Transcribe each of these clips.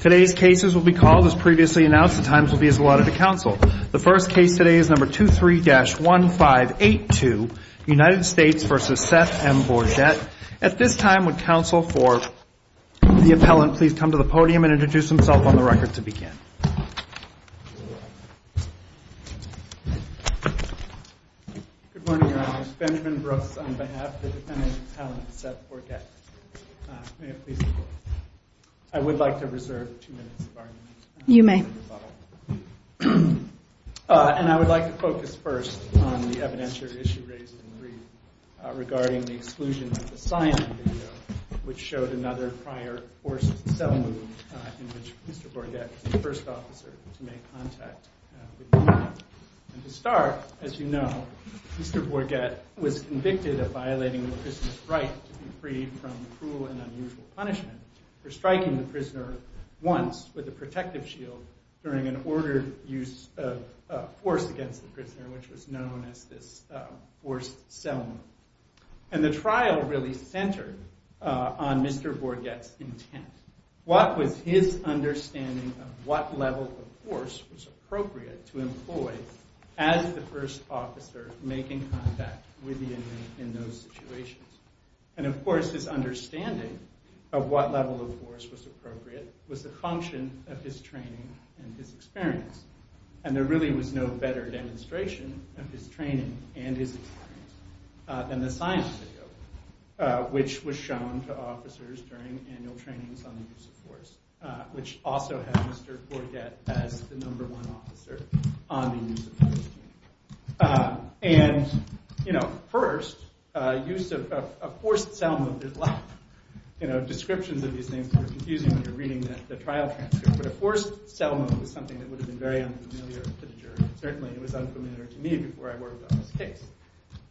Today's cases will be called as previously announced. The times will be as allotted to counsel. The first case today is number 23-1582, United States v. Seth M. Bourget. At this time, would counsel for the appellant please come to the podium and introduce himself on the record to begin. Good morning, Your Honor. It's Benjamin Brooks on behalf of the defendant's appellant, Seth Bourget. May it please the Court. I would like to reserve two minutes of our time. You may. And I would like to focus first on the evidentiary issue raised in the brief regarding the exclusion of the sign on the video, which showed another prior forced cell move in which Mr. Bourget was the first officer to make contact with the man. And to start, as you know, Mr. Bourget was convicted of violating the prisoner's right to be freed from cruel and unusual punishment for striking the prisoner once with a protective shield during an ordered use of force against the prisoner, which was known as this forced cell move. And the trial really centered on Mr. Bourget's intent. What was his understanding of what level of force was appropriate to employ as the first officer making contact with the inmate in those situations? And of course, his understanding of what level of force was appropriate was the function of his training and his experience. And there really was no better demonstration of his training and his experience than the sign on the video, which was shown to officers during annual trainings on the use of force, which also had Mr. Bourget as the number one officer on the use of force team. And, you know, first, use of a forced cell move is like, you know, descriptions of these things are confusing when you're reading the trial transcript, but a forced cell move is something that would have been very unfamiliar to the jury. Certainly it was unfamiliar to me before I worked on this case.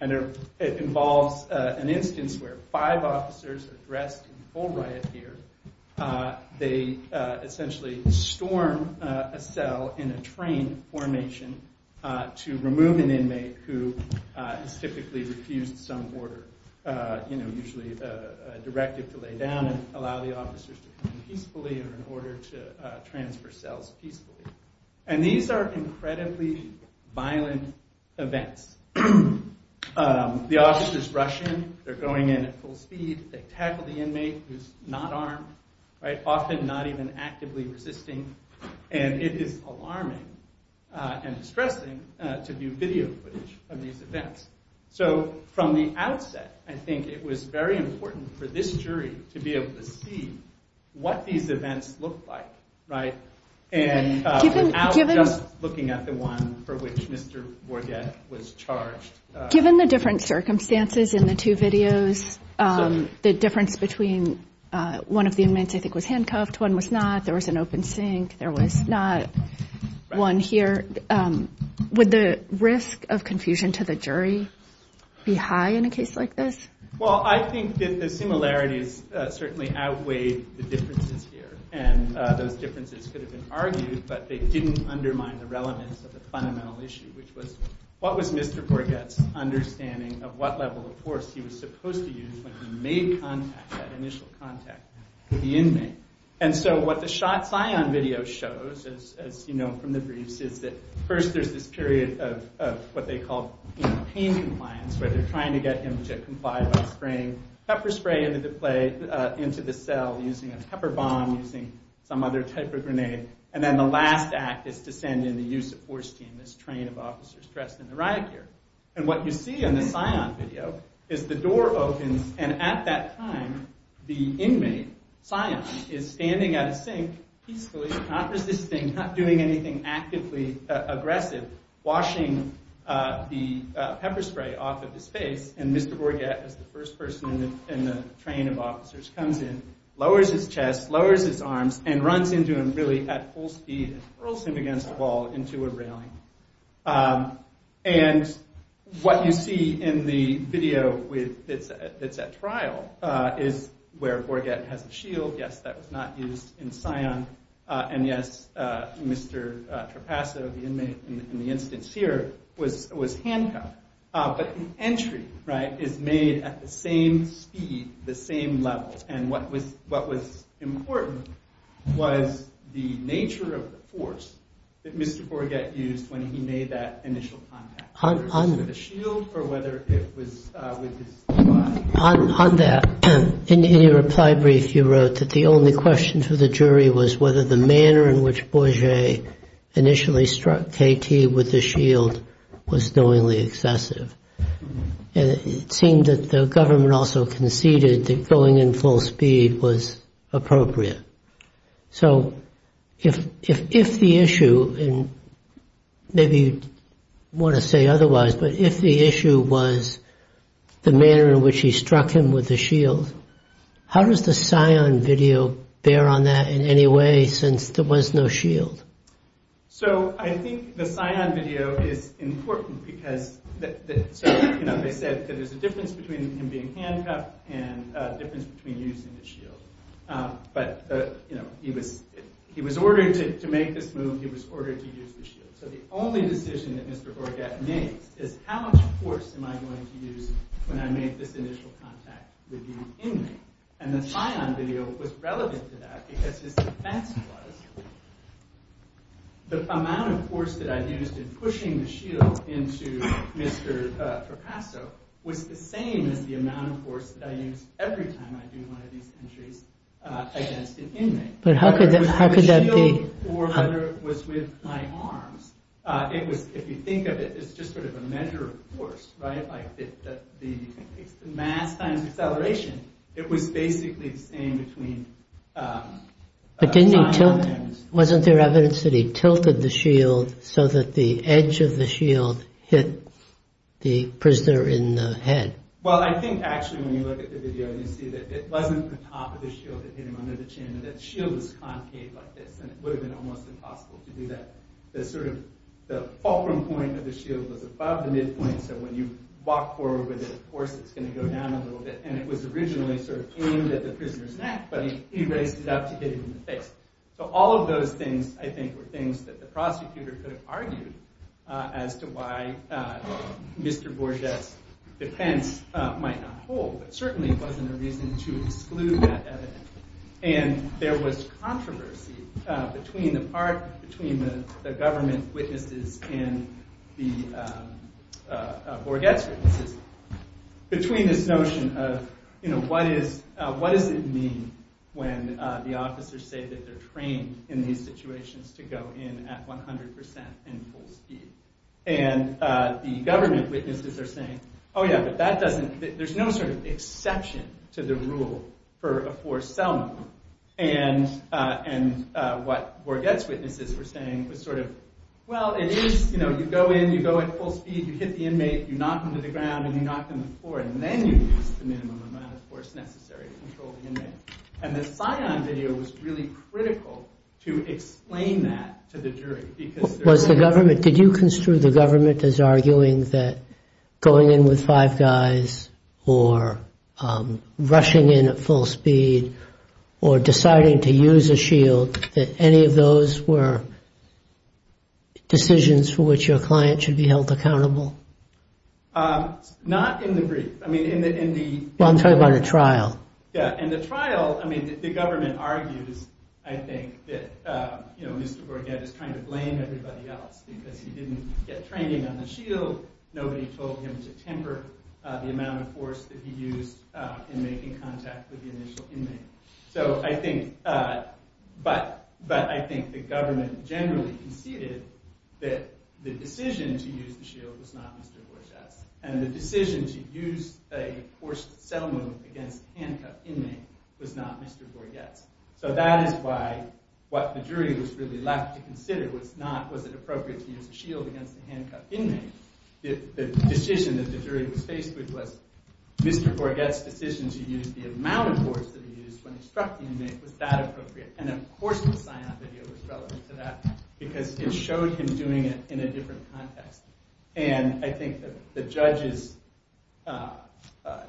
And it involves an instance where five officers are dressed in full riot gear. They essentially storm a cell in a train formation to remove an inmate who has typically refused some order, usually a directive to lay down and allow the officers to come in peacefully or in order to transfer cells peacefully. And these are incredibly violent events. The officers rush in. They're going in at full speed. They tackle the inmate who's not armed, often not even actively resisting. And it is alarming and distressing to view video footage of these events. So from the outset, I think it was very important for this jury to be able to see what these events look like. And without just looking at the one for which Mr. Wargett was charged. Given the different circumstances in the two videos, the difference between one of the inmates I think was handcuffed, one was not, there was an open sink, there was not one here, would the risk of confusion to the jury be high in a case like this? Well, I think that the similarities certainly outweighed the differences here. And those differences could have been argued, but they didn't undermine the relevance of the fundamental issue, which was what was Mr. Wargett's understanding of what level of force he was supposed to use when he made contact, that initial contact with the inmate. And so what the shot scion video shows, as you know from the briefs, is that first there's this period of what they call pain compliance, where they're trying to get him to comply by spraying pepper spray into the cell using a pepper bomb, using some other type of grenade, and then the last act is to send in the use of force team, this train of officers dressed in the riot gear. And what you see in the scion video is the door opens, and at that time, the inmate, scion, is standing at a sink, peacefully, not resisting, not doing anything actively aggressive, washing the pepper spray off of his face. And Mr. Wargett is the first person in the train of officers, comes in, lowers his chest, lowers his arms, and runs into him really at full speed and hurls him against a wall into a railing. And what you see in the video that's at trial is where Wargett has a shield. Yes, that was not used in scion, and yes, Mr. Trapasso, the inmate in the instance here, was handcuffed. But the entry is made at the same speed, the same level, and what was important was the nature of the force that Mr. Wargett used when he made that initial contact. On that, in your reply brief, you wrote that the only question for the jury was whether the manner in which Borget initially struck KT with the shield was knowingly excessive. And it seemed that the government also conceded that going in full speed was appropriate. So if the issue, and maybe you want to say otherwise, but if the issue was the manner in which he struck him with the shield, how does the scion video bear on that in any way, since there was no shield? So I think the scion video is important because, as I said, there's a difference between him being handcuffed and a difference between using the shield. But he was ordered to make this move, he was ordered to use the shield. So the only decision that Mr. Wargett makes is how much force am I going to use when I make this initial contact with the inmate. And the scion video was relevant to that because his defense was the amount of force that I used in pushing the shield into Mr. Trapasso was the same as the amount of force that I use every time I do one of these entries against an inmate. But how could that be? The shield was with my arms. If you think of it, it's just sort of a measure of force, right? It's the mass times acceleration. It was basically the same between... But wasn't there evidence that he tilted the shield so that the edge of the shield hit the prisoner in the head? Well, I think, actually, when you look at the video, you see that it wasn't the top of the shield that hit him under the chin, that the shield was concave like this, and it would have been almost impossible to do that. The fulcrum point of the shield was above the midpoint, so when you walk forward with it, of course, it's going to go down a little bit. And it was originally aimed at the prisoner's neck, but he raised it up to hit him in the face. So all of those things, I think, were things that the prosecutor could have argued as to why Mr. Borget's defense might not hold, but certainly it wasn't a reason to exclude that evidence. And there was controversy between the government witnesses and Borget's witnesses between this notion of what does it mean when the officers say that they're trained in these situations to go in at 100% in full speed. And the government witnesses are saying, oh yeah, but that doesn't, there's no sort of exception to the rule for a forced cell number. And what Borget's witnesses were saying was sort of, well, it is, you know, you go in, you go in full speed, you hit the inmate, you knock him to the ground, and you knock him to the floor, and then you use the minimum amount of force necessary to control the inmate. And the Scion video was really critical to explain that to the jury. Was the government, did you construe the government as arguing that going in with five guys or rushing in at full speed or deciding to use a shield, that any of those were decisions for which your client should be held accountable? Not in the brief. I mean in the... Well, I'm talking about a trial. Yeah, and the trial, I mean, the government argues, I think, that, you know, Mr. Borget is trying to blame everybody else because he didn't get training on the shield, nobody told him to temper the amount of force that he used in making contact with the initial inmate. So I think, but I think the government generally conceded that the decision to use the shield was not Mr. Borget's. And the decision to use a forced settlement against a handcuffed inmate was not Mr. Borget's. So that is why what the jury was really left to consider was not, was it appropriate to use a shield against a handcuffed inmate? The decision that the jury was faced with was Mr. Borget's decision to use the amount of force that he used when he struck the inmate, was that appropriate? And of course the Scion video was relevant to that because it showed him doing it in a different context. And I think the judge's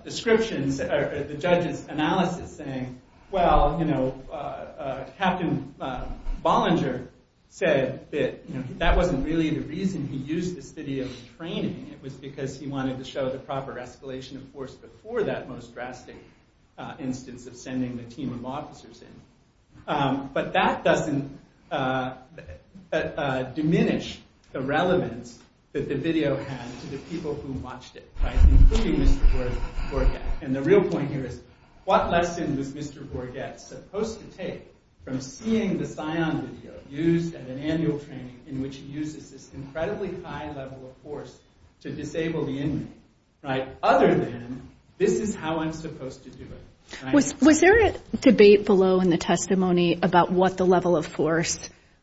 descriptions, or the judge's analysis saying, well, you know, Captain Bollinger said that, you know, that wasn't really the reason he used this video for training. It was because he wanted to show the proper escalation of force before that most drastic instance of sending the team of officers in. But that doesn't diminish the relevance that the video had to the people who watched it. Including Mr. Borget. And the real point here is, what lesson was Mr. Borget supposed to take from seeing the Scion video used at an annual training in which he uses this incredibly high level of force to disable the inmate? Other than, this is how I'm supposed to do it. Was there a debate below in the testimony about what the level of force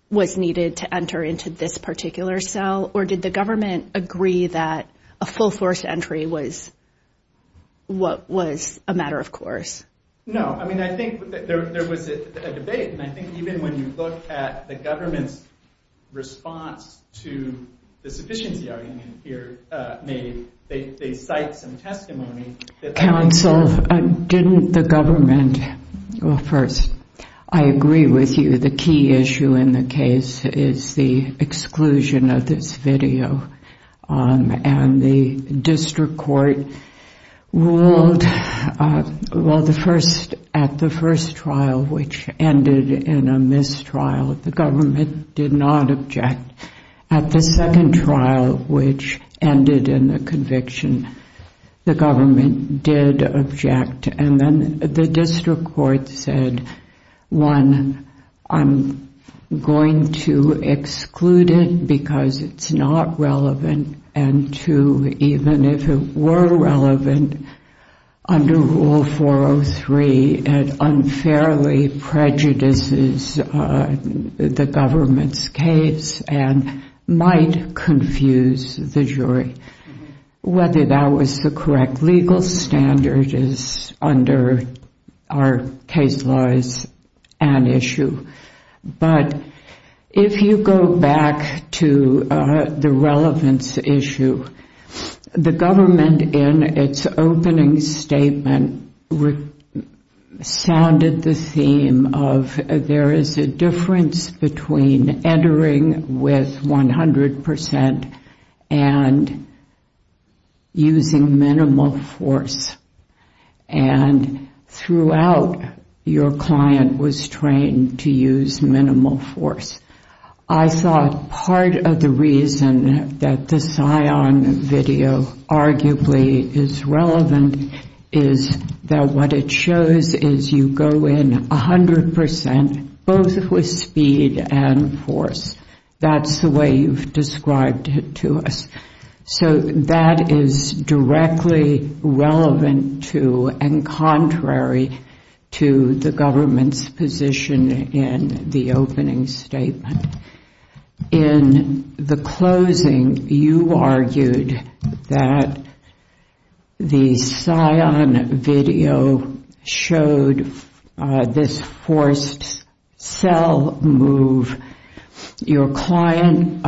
was needed to enter into this particular cell? Or did the government agree that a full force entry was a matter of course? No. I mean, I think there was a debate. And I think even when you look at the government's response to the sufficiency argument here, they cite some testimony. Counsel, didn't the government... Well, first, I agree with you. The key issue in the case is the exclusion of this video. And the district court ruled... Well, at the first trial, which ended in a mistrial, the government did not object. At the second trial, which ended in a conviction, the government did object. And then the district court said, one, I'm going to exclude it because it's not relevant. And two, even if it were relevant, under Rule 403, it unfairly prejudices the government's case and might confuse the jury. Whether that was the correct legal standard is, under our case laws, an issue. But if you go back to the relevance issue, the government, in its opening statement, sounded the theme of there is a difference between entering with 100% and using minimal force. And throughout, your client was trained to use minimal force. I thought part of the reason that the Scion video arguably is relevant is that what it shows is you go in 100% both with speed and force. That's the way you've described it to us. So that is directly relevant to and contrary to the government's position in the opening statement. In the closing, you argued that the Scion video showed this forced cell move. Your client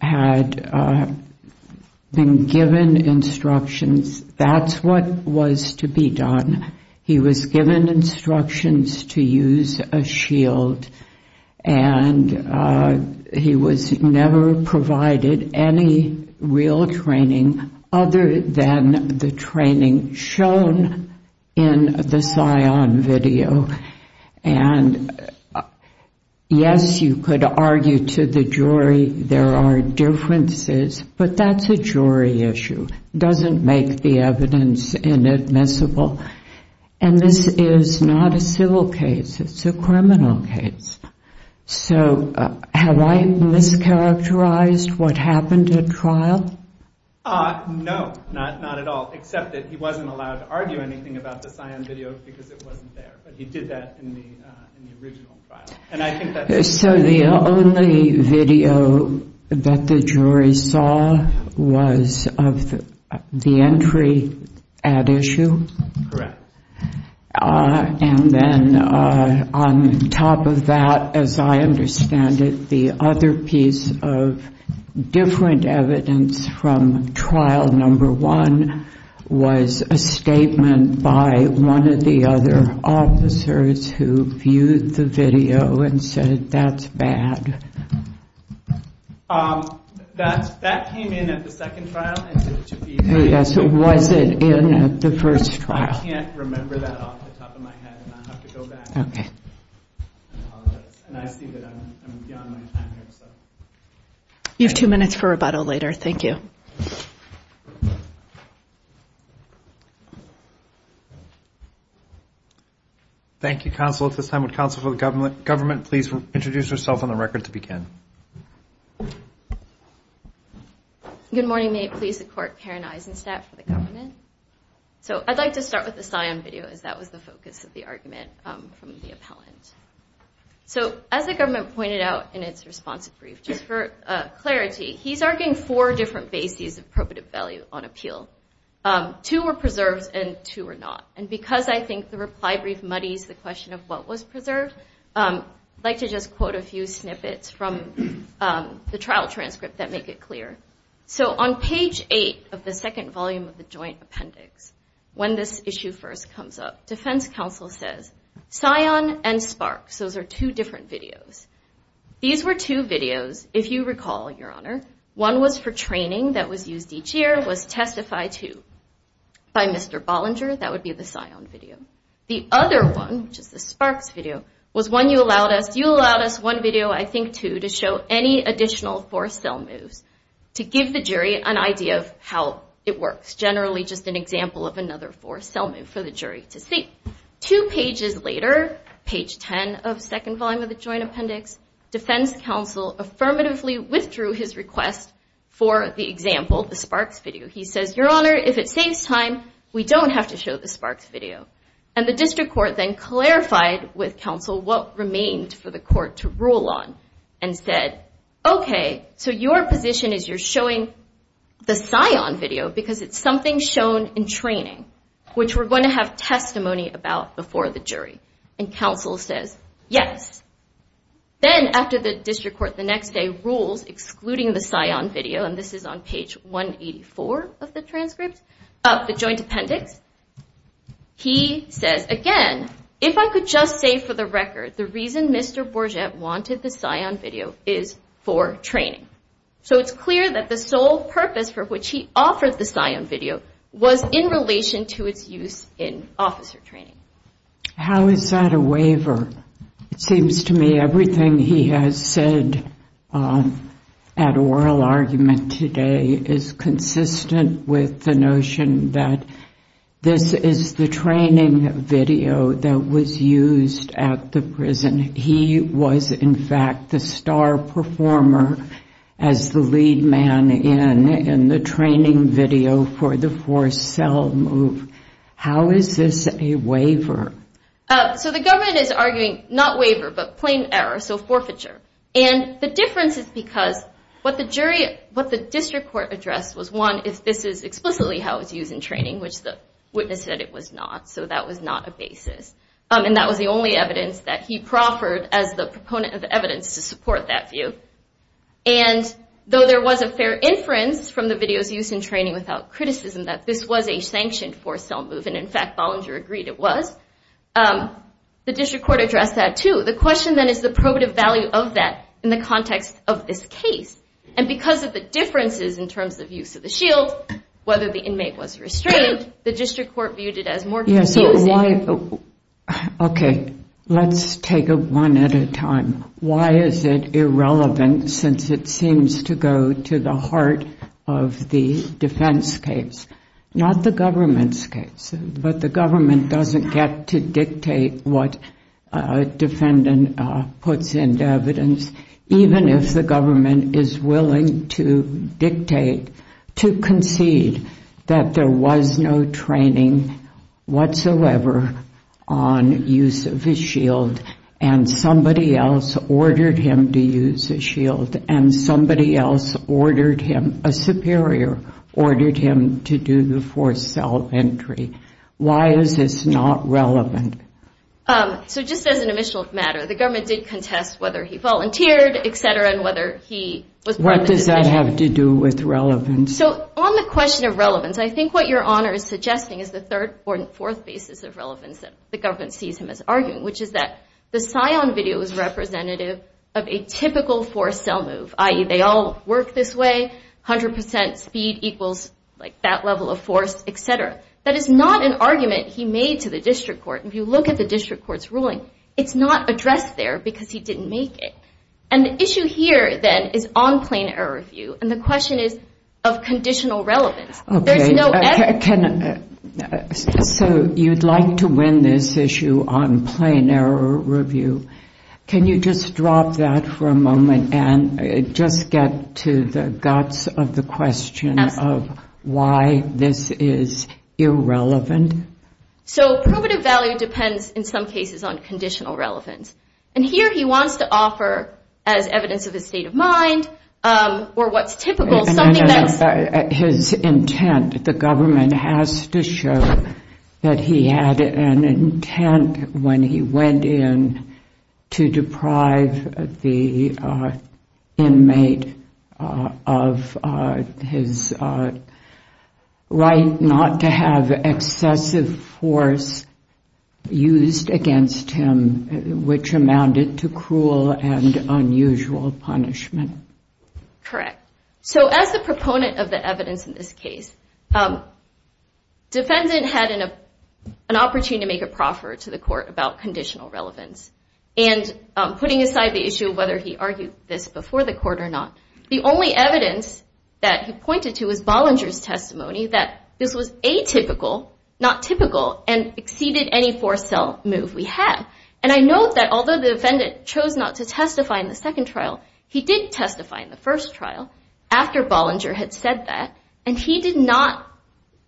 had been given instructions. That's what was to be done. He was given instructions to use a shield. And he was never provided any real training other than the training shown in the Scion video. And yes, you could argue to the jury there are differences. But that's a jury issue. It doesn't make the evidence inadmissible. And this is not a civil case. It's a criminal case. So have I mischaracterized what happened at trial? No, not at all. Except that he wasn't allowed to argue anything about the Scion video because it wasn't there. But he did that in the original trial. So the only video that the jury saw was of the entry at issue? Correct. And then on top of that, as I understand it, the other piece of different evidence from trial number one was a statement by one of the other officers who viewed the video and said, that's bad. That came in at the second trial. Was it in the first trial? I can't remember that off the top of my head. And I'll have to go back and apologize. And I see that I'm beyond my time here. You have two minutes for rebuttal later. Thank you. Thank you, Counsel. At this time, would Counsel for the Government please introduce herself on the record to begin? Good morning. May it please the Court, Karen Eisenstadt for the Government. So I'd like to start with the Scion video as that was the focus of the argument from the appellant. So as the Government pointed out in its response brief, just for clarity, he's arguing four different bases of probative value on appeal. Two were preserved and two were not. And because I think the reply brief muddies the question of what was preserved, I'd like to just quote a few snippets from the trial transcript that make it clear. So on page 8 of the second volume of the Joint Appendix, when this issue first comes up, Defense Counsel says, Scion and Sparks, those are two different videos. These were two videos, if you recall, Your Honor. One was for training that was used each year, was Testify 2 by Mr. Bollinger. That would be the Scion video. The other one, which is the Sparks video, was one you allowed us. One video, I think two, to show any additional forced cell moves to give the jury an idea of how it works, generally just an example of another forced cell move for the jury to see. Two pages later, page 10 of the second volume of the Joint Appendix, Defense Counsel affirmatively withdrew his request for the example, the Sparks video. He says, Your Honor, if it saves time, we don't have to show the Sparks video. The district court then clarified with counsel what remained for the court to rule on and said, Okay, so your position is you're showing the Scion video because it's something shown in training, which we're going to have testimony about before the jury. Counsel says, Yes. Then after the district court the next day rules excluding the Scion video, and this is on page 184 of the transcript of the Joint Appendix, he says, Again, if I could just say for the record, the reason Mr. Bourget wanted the Scion video is for training. So it's clear that the sole purpose for which he offered the Scion video was in relation to its use in officer training. How is that a waiver? It seems to me everything he has said at oral argument today is consistent with the notion that this is the training video that was used at the prison. He was, in fact, the star performer as the lead man in the training video for the forced cell move. How is this a waiver? So the government is arguing not waiver but plain error, so forfeiture. The difference is because what the district court addressed was, one, if this is explicitly how it's used in training, which the witness said it was not, so that was not a basis. That was the only evidence that he proffered as the proponent of evidence to support that view. Though there was a fair inference from the videos used in training without criticism that this was a sanctioned forced cell move, and in fact Bollinger agreed it was, the district court addressed that too. The question then is the probative value of that in the context of this case, and because of the differences in terms of use of the shield, whether the inmate was restrained, the district court viewed it as more confusing. Okay, let's take it one at a time. Why is it irrelevant since it seems to go to the heart of the defense case, not the government's case, but the government doesn't get to dictate what a defendant puts into evidence, even if the government is willing to dictate, to concede that there was no training whatsoever on use of the shield and somebody else ordered him to use the shield and somebody else ordered him, a superior ordered him to do the forced cell entry. Why is this not relevant? So just as an initial matter, the government did contest whether he volunteered, etc., and whether he was part of the decision. What does that have to do with relevance? So on the question of relevance, I think what your Honor is suggesting is the third or fourth basis of relevance that the government sees him as arguing, which is that the scion video is representative of a typical forced cell move, i.e., they all work this way, 100% speed equals that level of force, etc. That is not an argument he made to the district court. If you look at the district court's ruling, it's not addressed there because he didn't make it. And the issue here, then, is on plain error view, and the question is of conditional relevance. So you'd like to win this issue on plain error review. Can you just drop that for a moment and just get to the guts of the question of why this is irrelevant? So probative value depends, in some cases, on conditional relevance. And here he wants to offer, as evidence of his state of mind or what's typical, something that's the government has to show that he had an intent when he went in to deprive the inmate of his right not to have excessive force used against him, which amounted to cruel and unusual punishment. Correct. So as the proponent of the evidence in this case, defendant had an opportunity to make a proffer to the court about conditional relevance. And putting aside the issue of whether he argued this before the court or not, the only evidence that he pointed to was Bollinger's testimony that this was atypical, not typical, and exceeded any forced cell move we had. And I note that although the defendant chose not to testify in the second trial, he did testify in the first trial after Bollinger had said that, and he did not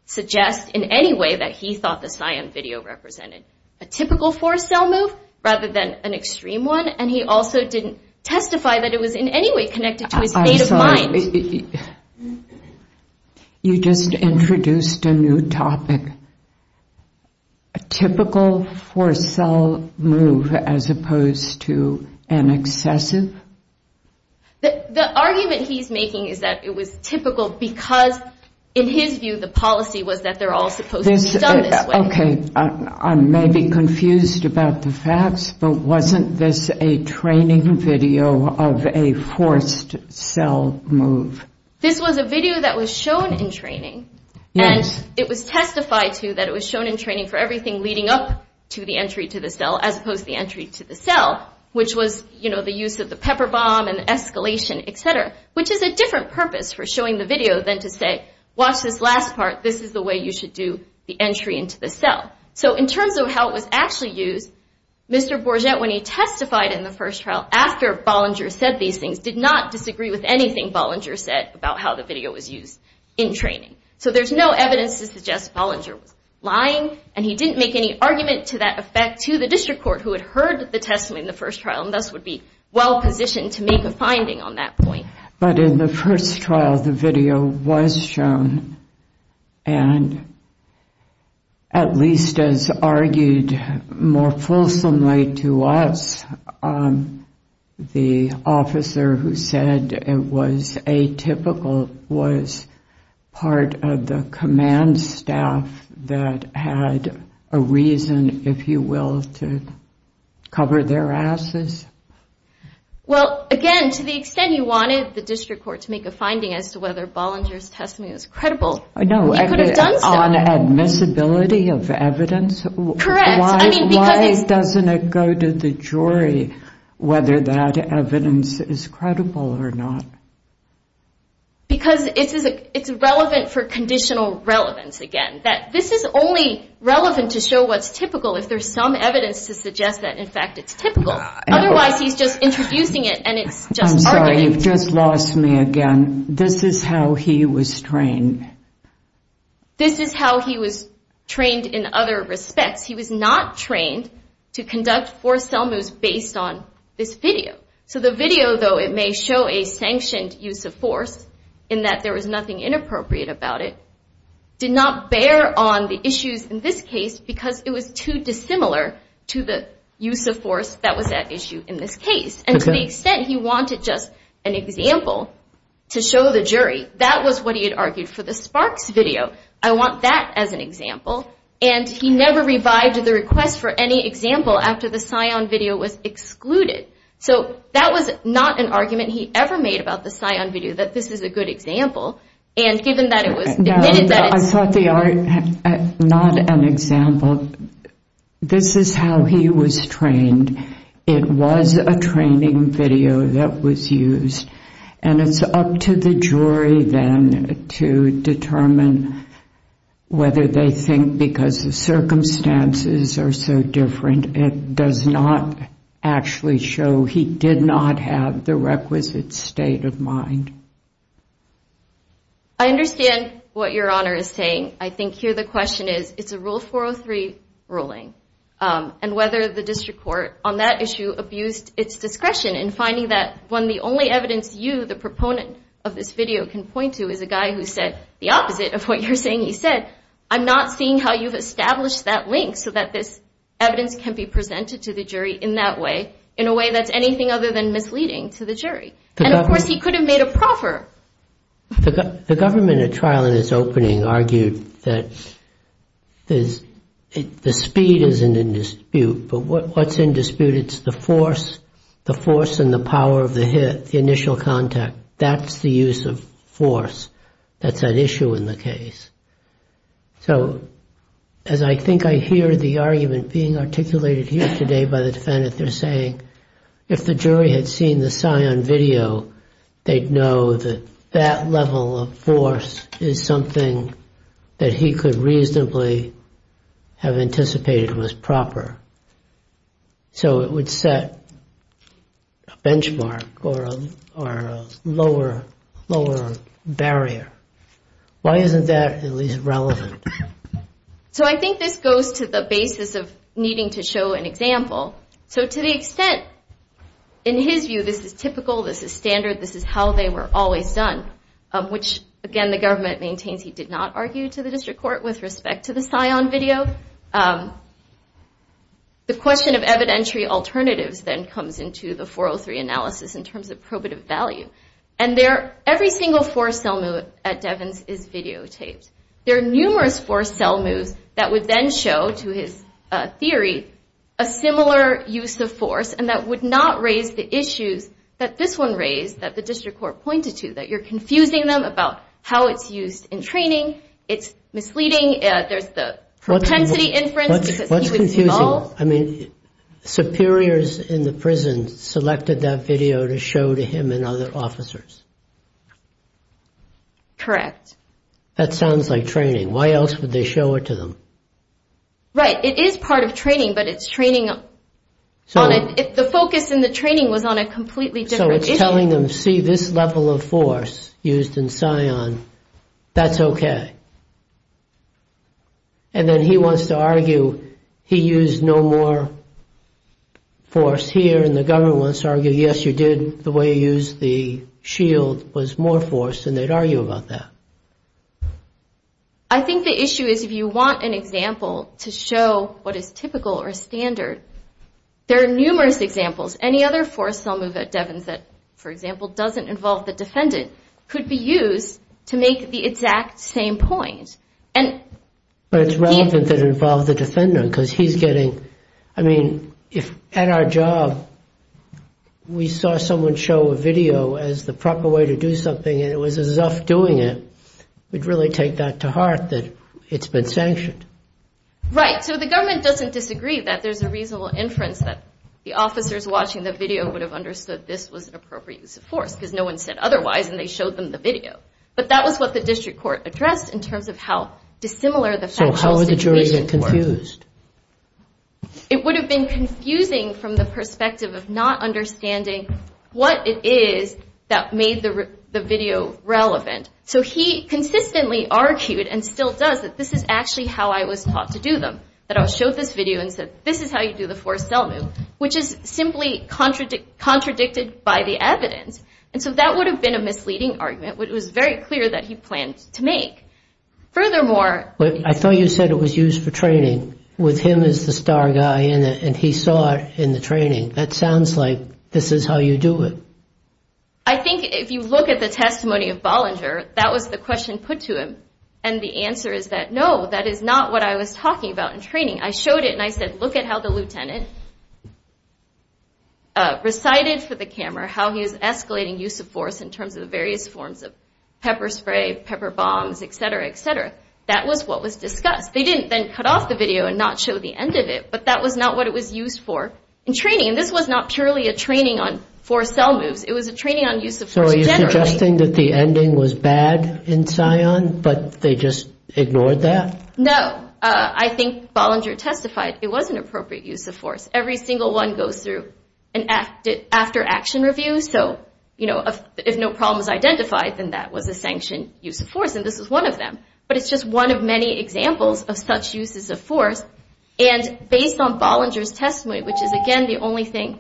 suggest in any way that he thought the Sion video represented a typical forced cell move rather than an extreme one, and he also didn't testify that it was in any way connected to his state of mind. You just introduced a new topic. A typical forced cell move as opposed to an excessive? The argument he's making is that it was typical because, in his view, the policy was that they're all supposed to be done this way. Okay. I may be confused about the facts, but wasn't this a training video of a forced cell move? This was a video that was shown in training, and it was testified to that it was shown in training for everything leading up to the entry to the cell as opposed to the entry to the cell, which was, you know, the use of the pepper bomb and escalation, et cetera, which is a different purpose for showing the video than to say, watch this last part, this is the way you should do the entry into the cell. So in terms of how it was actually used, Mr. Bourget, when he testified in the first trial, after Bollinger said these things, did not disagree with anything Bollinger said about how the video was used in training. So there's no evidence to suggest Bollinger was lying, and he didn't make any argument to that effect to the district court who had heard the testimony in the first trial and thus would be well positioned to make a finding on that point. But in the first trial, the video was shown, and at least as argued more fulsomely to us, the officer who said it was atypical was part of the command staff that had a reason, if you will, to cover their asses? Well, again, to the extent you wanted the district court to make a finding as to whether Bollinger's testimony was credible, you could have done so. No, on admissibility of evidence? Correct. Why doesn't it go to the jury whether that evidence is credible or not? Because it's relevant for conditional relevance, again. This is only relevant to show what's typical if there's some evidence to suggest that, in fact, it's typical. Otherwise, he's just introducing it, and it's just arguing. I'm sorry, you've just lost me again. This is how he was trained? This is how he was trained in other respects. He was not trained to conduct forced sell moves based on this video. So the video, though it may show a sanctioned use of force in that there was nothing inappropriate about it, did not bear on the issues in this case because it was too dissimilar to the use of force that was at issue in this case. And to the extent he wanted just an example to show the jury, that was what he had argued for the Sparks video. I want that as an example. And he never revived the request for any example after the Scion video was excluded. So that was not an argument he ever made about the Scion video, that this is a good example. And given that it was admitted that it's— No, I thought they are not an example. This is how he was trained. It was a training video that was used. And it's up to the jury then to determine whether they think because the circumstances are so different, it does not actually show he did not have the requisite state of mind. I understand what Your Honor is saying. I think here the question is, it's a Rule 403 ruling. And whether the district court on that issue abused its discretion in finding that when the only evidence you, the proponent of this video, can point to is a guy who said the opposite of what you're saying he said, I'm not seeing how you've established that link so that this evidence can be presented to the jury in that way, in a way that's anything other than misleading to the jury. And, of course, he could have made a proffer. The government at trial in its opening argued that the speed isn't in dispute, but what's in dispute, it's the force and the power of the hit, the initial contact. That's the use of force. That's at issue in the case. So as I think I hear the argument being articulated here today by the defendant, they're saying if the jury had seen the Scion video, they'd know that that level of force is something that he could reasonably have anticipated was proper. So it would set a benchmark or a lower barrier. Why isn't that at least relevant? So I think this goes to the basis of needing to show an example. So to the extent, in his view, this is typical, this is standard, this is how they were always done, which, again, the government maintains he did not argue to the district court with respect to the Scion video. The question of evidentiary alternatives then comes into the 403 analysis in terms of probative value. And every single force element at Devins is videotaped. There are numerous force cell moves that would then show, to his theory, a similar use of force, and that would not raise the issues that this one raised that the district court pointed to, that you're confusing them about how it's used in training, it's misleading, there's the propensity inference because he was involved. I mean, superiors in the prison selected that video to show to him and other officers. Correct. That sounds like training. Why else would they show it to them? Right. It is part of training, but it's training on it. If the focus in the training was on a completely different issue... So it's telling them, see, this level of force used in Scion, that's OK. And then he wants to argue he used no more force here, and the government wants to argue, yes, you did, the way you used the shield was more force, and they'd argue about that. I think the issue is if you want an example to show what is typical or standard, there are numerous examples. Any other force cell move at Devins that, for example, doesn't involve the defendant could be used to make the exact same point. But it's relevant that it involves the defendant because he's getting... I mean, if at our job we saw someone show a video as the proper way to do something and it was as if doing it, we'd really take that to heart that it's been sanctioned. Right. So the government doesn't disagree that there's a reasonable inference that the officers watching the video would have understood this was an appropriate use of force because no one said otherwise and they showed them the video. But that was what the district court addressed in terms of how dissimilar the... So how would the jury get confused? It would have been confusing from the perspective of not understanding what it is that made the video relevant. So he consistently argued and still does that this is actually how I was taught to do them, that I was showed this video and said this is how you do the force cell move, which is simply contradicted by the evidence. And so that would have been a misleading argument. It was very clear that he planned to make. I thought you said it was used for training. With him as the star guy in it and he saw it in the training, that sounds like this is how you do it. I think if you look at the testimony of Bollinger, that was the question put to him. And the answer is that no, that is not what I was talking about in training. I showed it and I said look at how the lieutenant recited for the camera how he was escalating use of force in terms of the various forms of pepper spray, pepper bombs, et cetera, et cetera. That was what was discussed. They didn't then cut off the video and not show the end of it, but that was not what it was used for in training. And this was not purely a training on force cell moves. It was a training on use of force generally. So are you suggesting that the ending was bad in Scion, but they just ignored that? No. I think Bollinger testified it was an appropriate use of force. Every single one goes through an after-action review. If no problem is identified, then that was a sanctioned use of force, and this was one of them. But it's just one of many examples of such uses of force. And based on Bollinger's testimony, which is, again, the only thing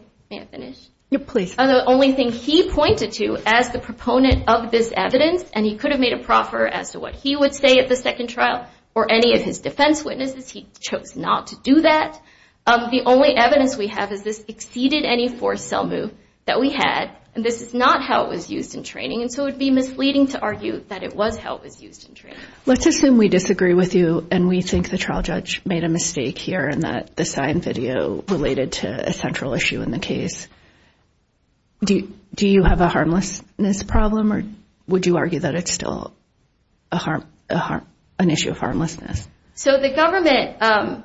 he pointed to as the proponent of this evidence, and he could have made a proffer as to what he would say at the second trial or any of his defense witnesses. He chose not to do that. The only evidence we have is this exceeded any force cell move that we had, and this is not how it was used in training, and so it would be misleading to argue that it was how it was used in training. Let's assume we disagree with you, and we think the trial judge made a mistake here in that the Scion video related to a central issue in the case. Do you have a harmlessness problem, or would you argue that it's still an issue of harmlessness? So the government,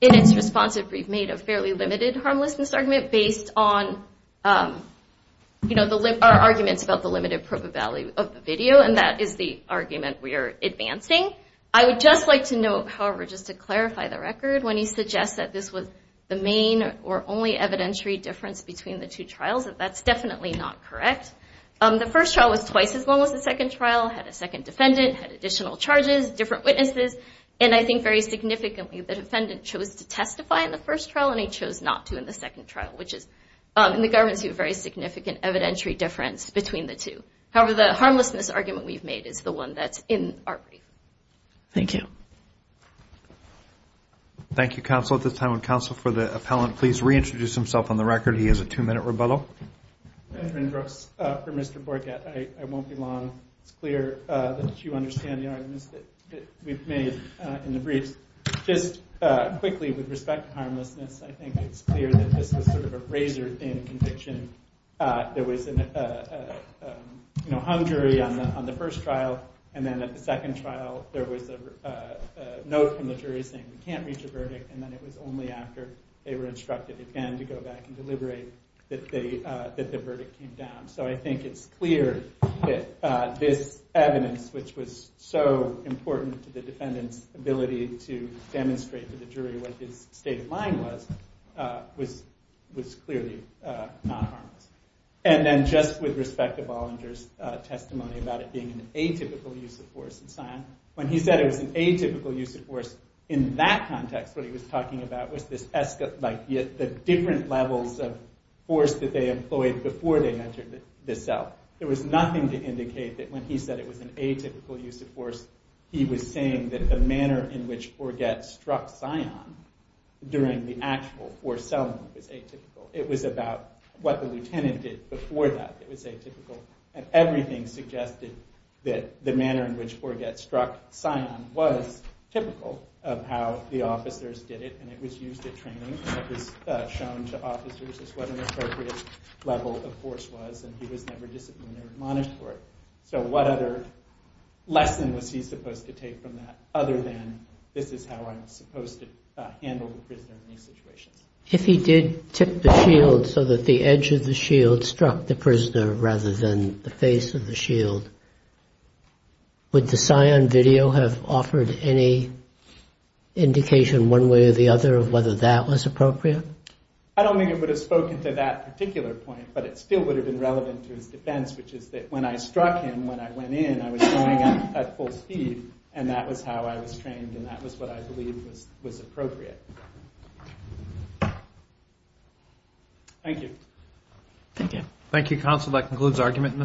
in its responsive brief, made a fairly limited harmlessness argument based on, you know, our arguments about the limited probability of the video, and that is the argument we are advancing. I would just like to note, however, just to clarify the record, when he suggests that this was the main or only evidentiary difference between the two trials, that that's definitely not correct. The first trial was twice as long as the second trial, had a second defendant, had additional charges, different witnesses, and I think very significantly, the defendant chose to testify in the first trial, and he chose not to in the second trial, which is, in the government's view, a very significant evidentiary difference between the two. However, the harmlessness argument we've made is the one that's in our brief. Thank you. Thank you, counsel. At this time, would counsel for the appellant please reintroduce himself on the record? He has a two-minute rebuttal. Benjamin Brooks for Mr. Borget. I won't be long. It's clear that you understand the arguments that we've made in the briefs. Just quickly, with respect to harmlessness, I think it's clear that this was sort of a razor-thin conviction. There was a hung jury on the first trial, and then at the second trial there was a note from the jury saying, we can't reach a verdict, and then it was only after they were instructed again to go back and deliberate that the verdict came down. So I think it's clear that this evidence, which was so important to the defendant's ability to demonstrate to the jury what his state of mind was, was clearly not harmless. And then just with respect to Bollinger's testimony about it being an atypical use of force in Sion, when he said it was an atypical use of force, in that context what he was talking about was the different levels of force that they employed before they entered the cell. There was nothing to indicate that when he said it was an atypical use of force, he was saying that the manner in which Forget struck Sion during the actual forced cell move was atypical. It was about what the lieutenant did before that that was atypical, and everything suggested that the manner in which Forget struck Sion was typical of how the officers did it, and it was used at training, and it was shown to officers as what an appropriate level of force was, and he was never disciplined or admonished for it. So what other lesson was he supposed to take from that other than this is how I'm supposed to handle the prisoner in these situations? If he did tip the shield so that the edge of the shield struck the prisoner rather than the face of the shield, would the Sion video have offered any indication one way or the other of whether that was appropriate? I don't think it would have spoken to that particular point, but it still would have been relevant to his defense, which is that when I struck him, when I went in, I was going at full speed, and that was how I was trained, and that was what I believe was appropriate. Thank you. Thank you, counsel. That concludes argument in this case.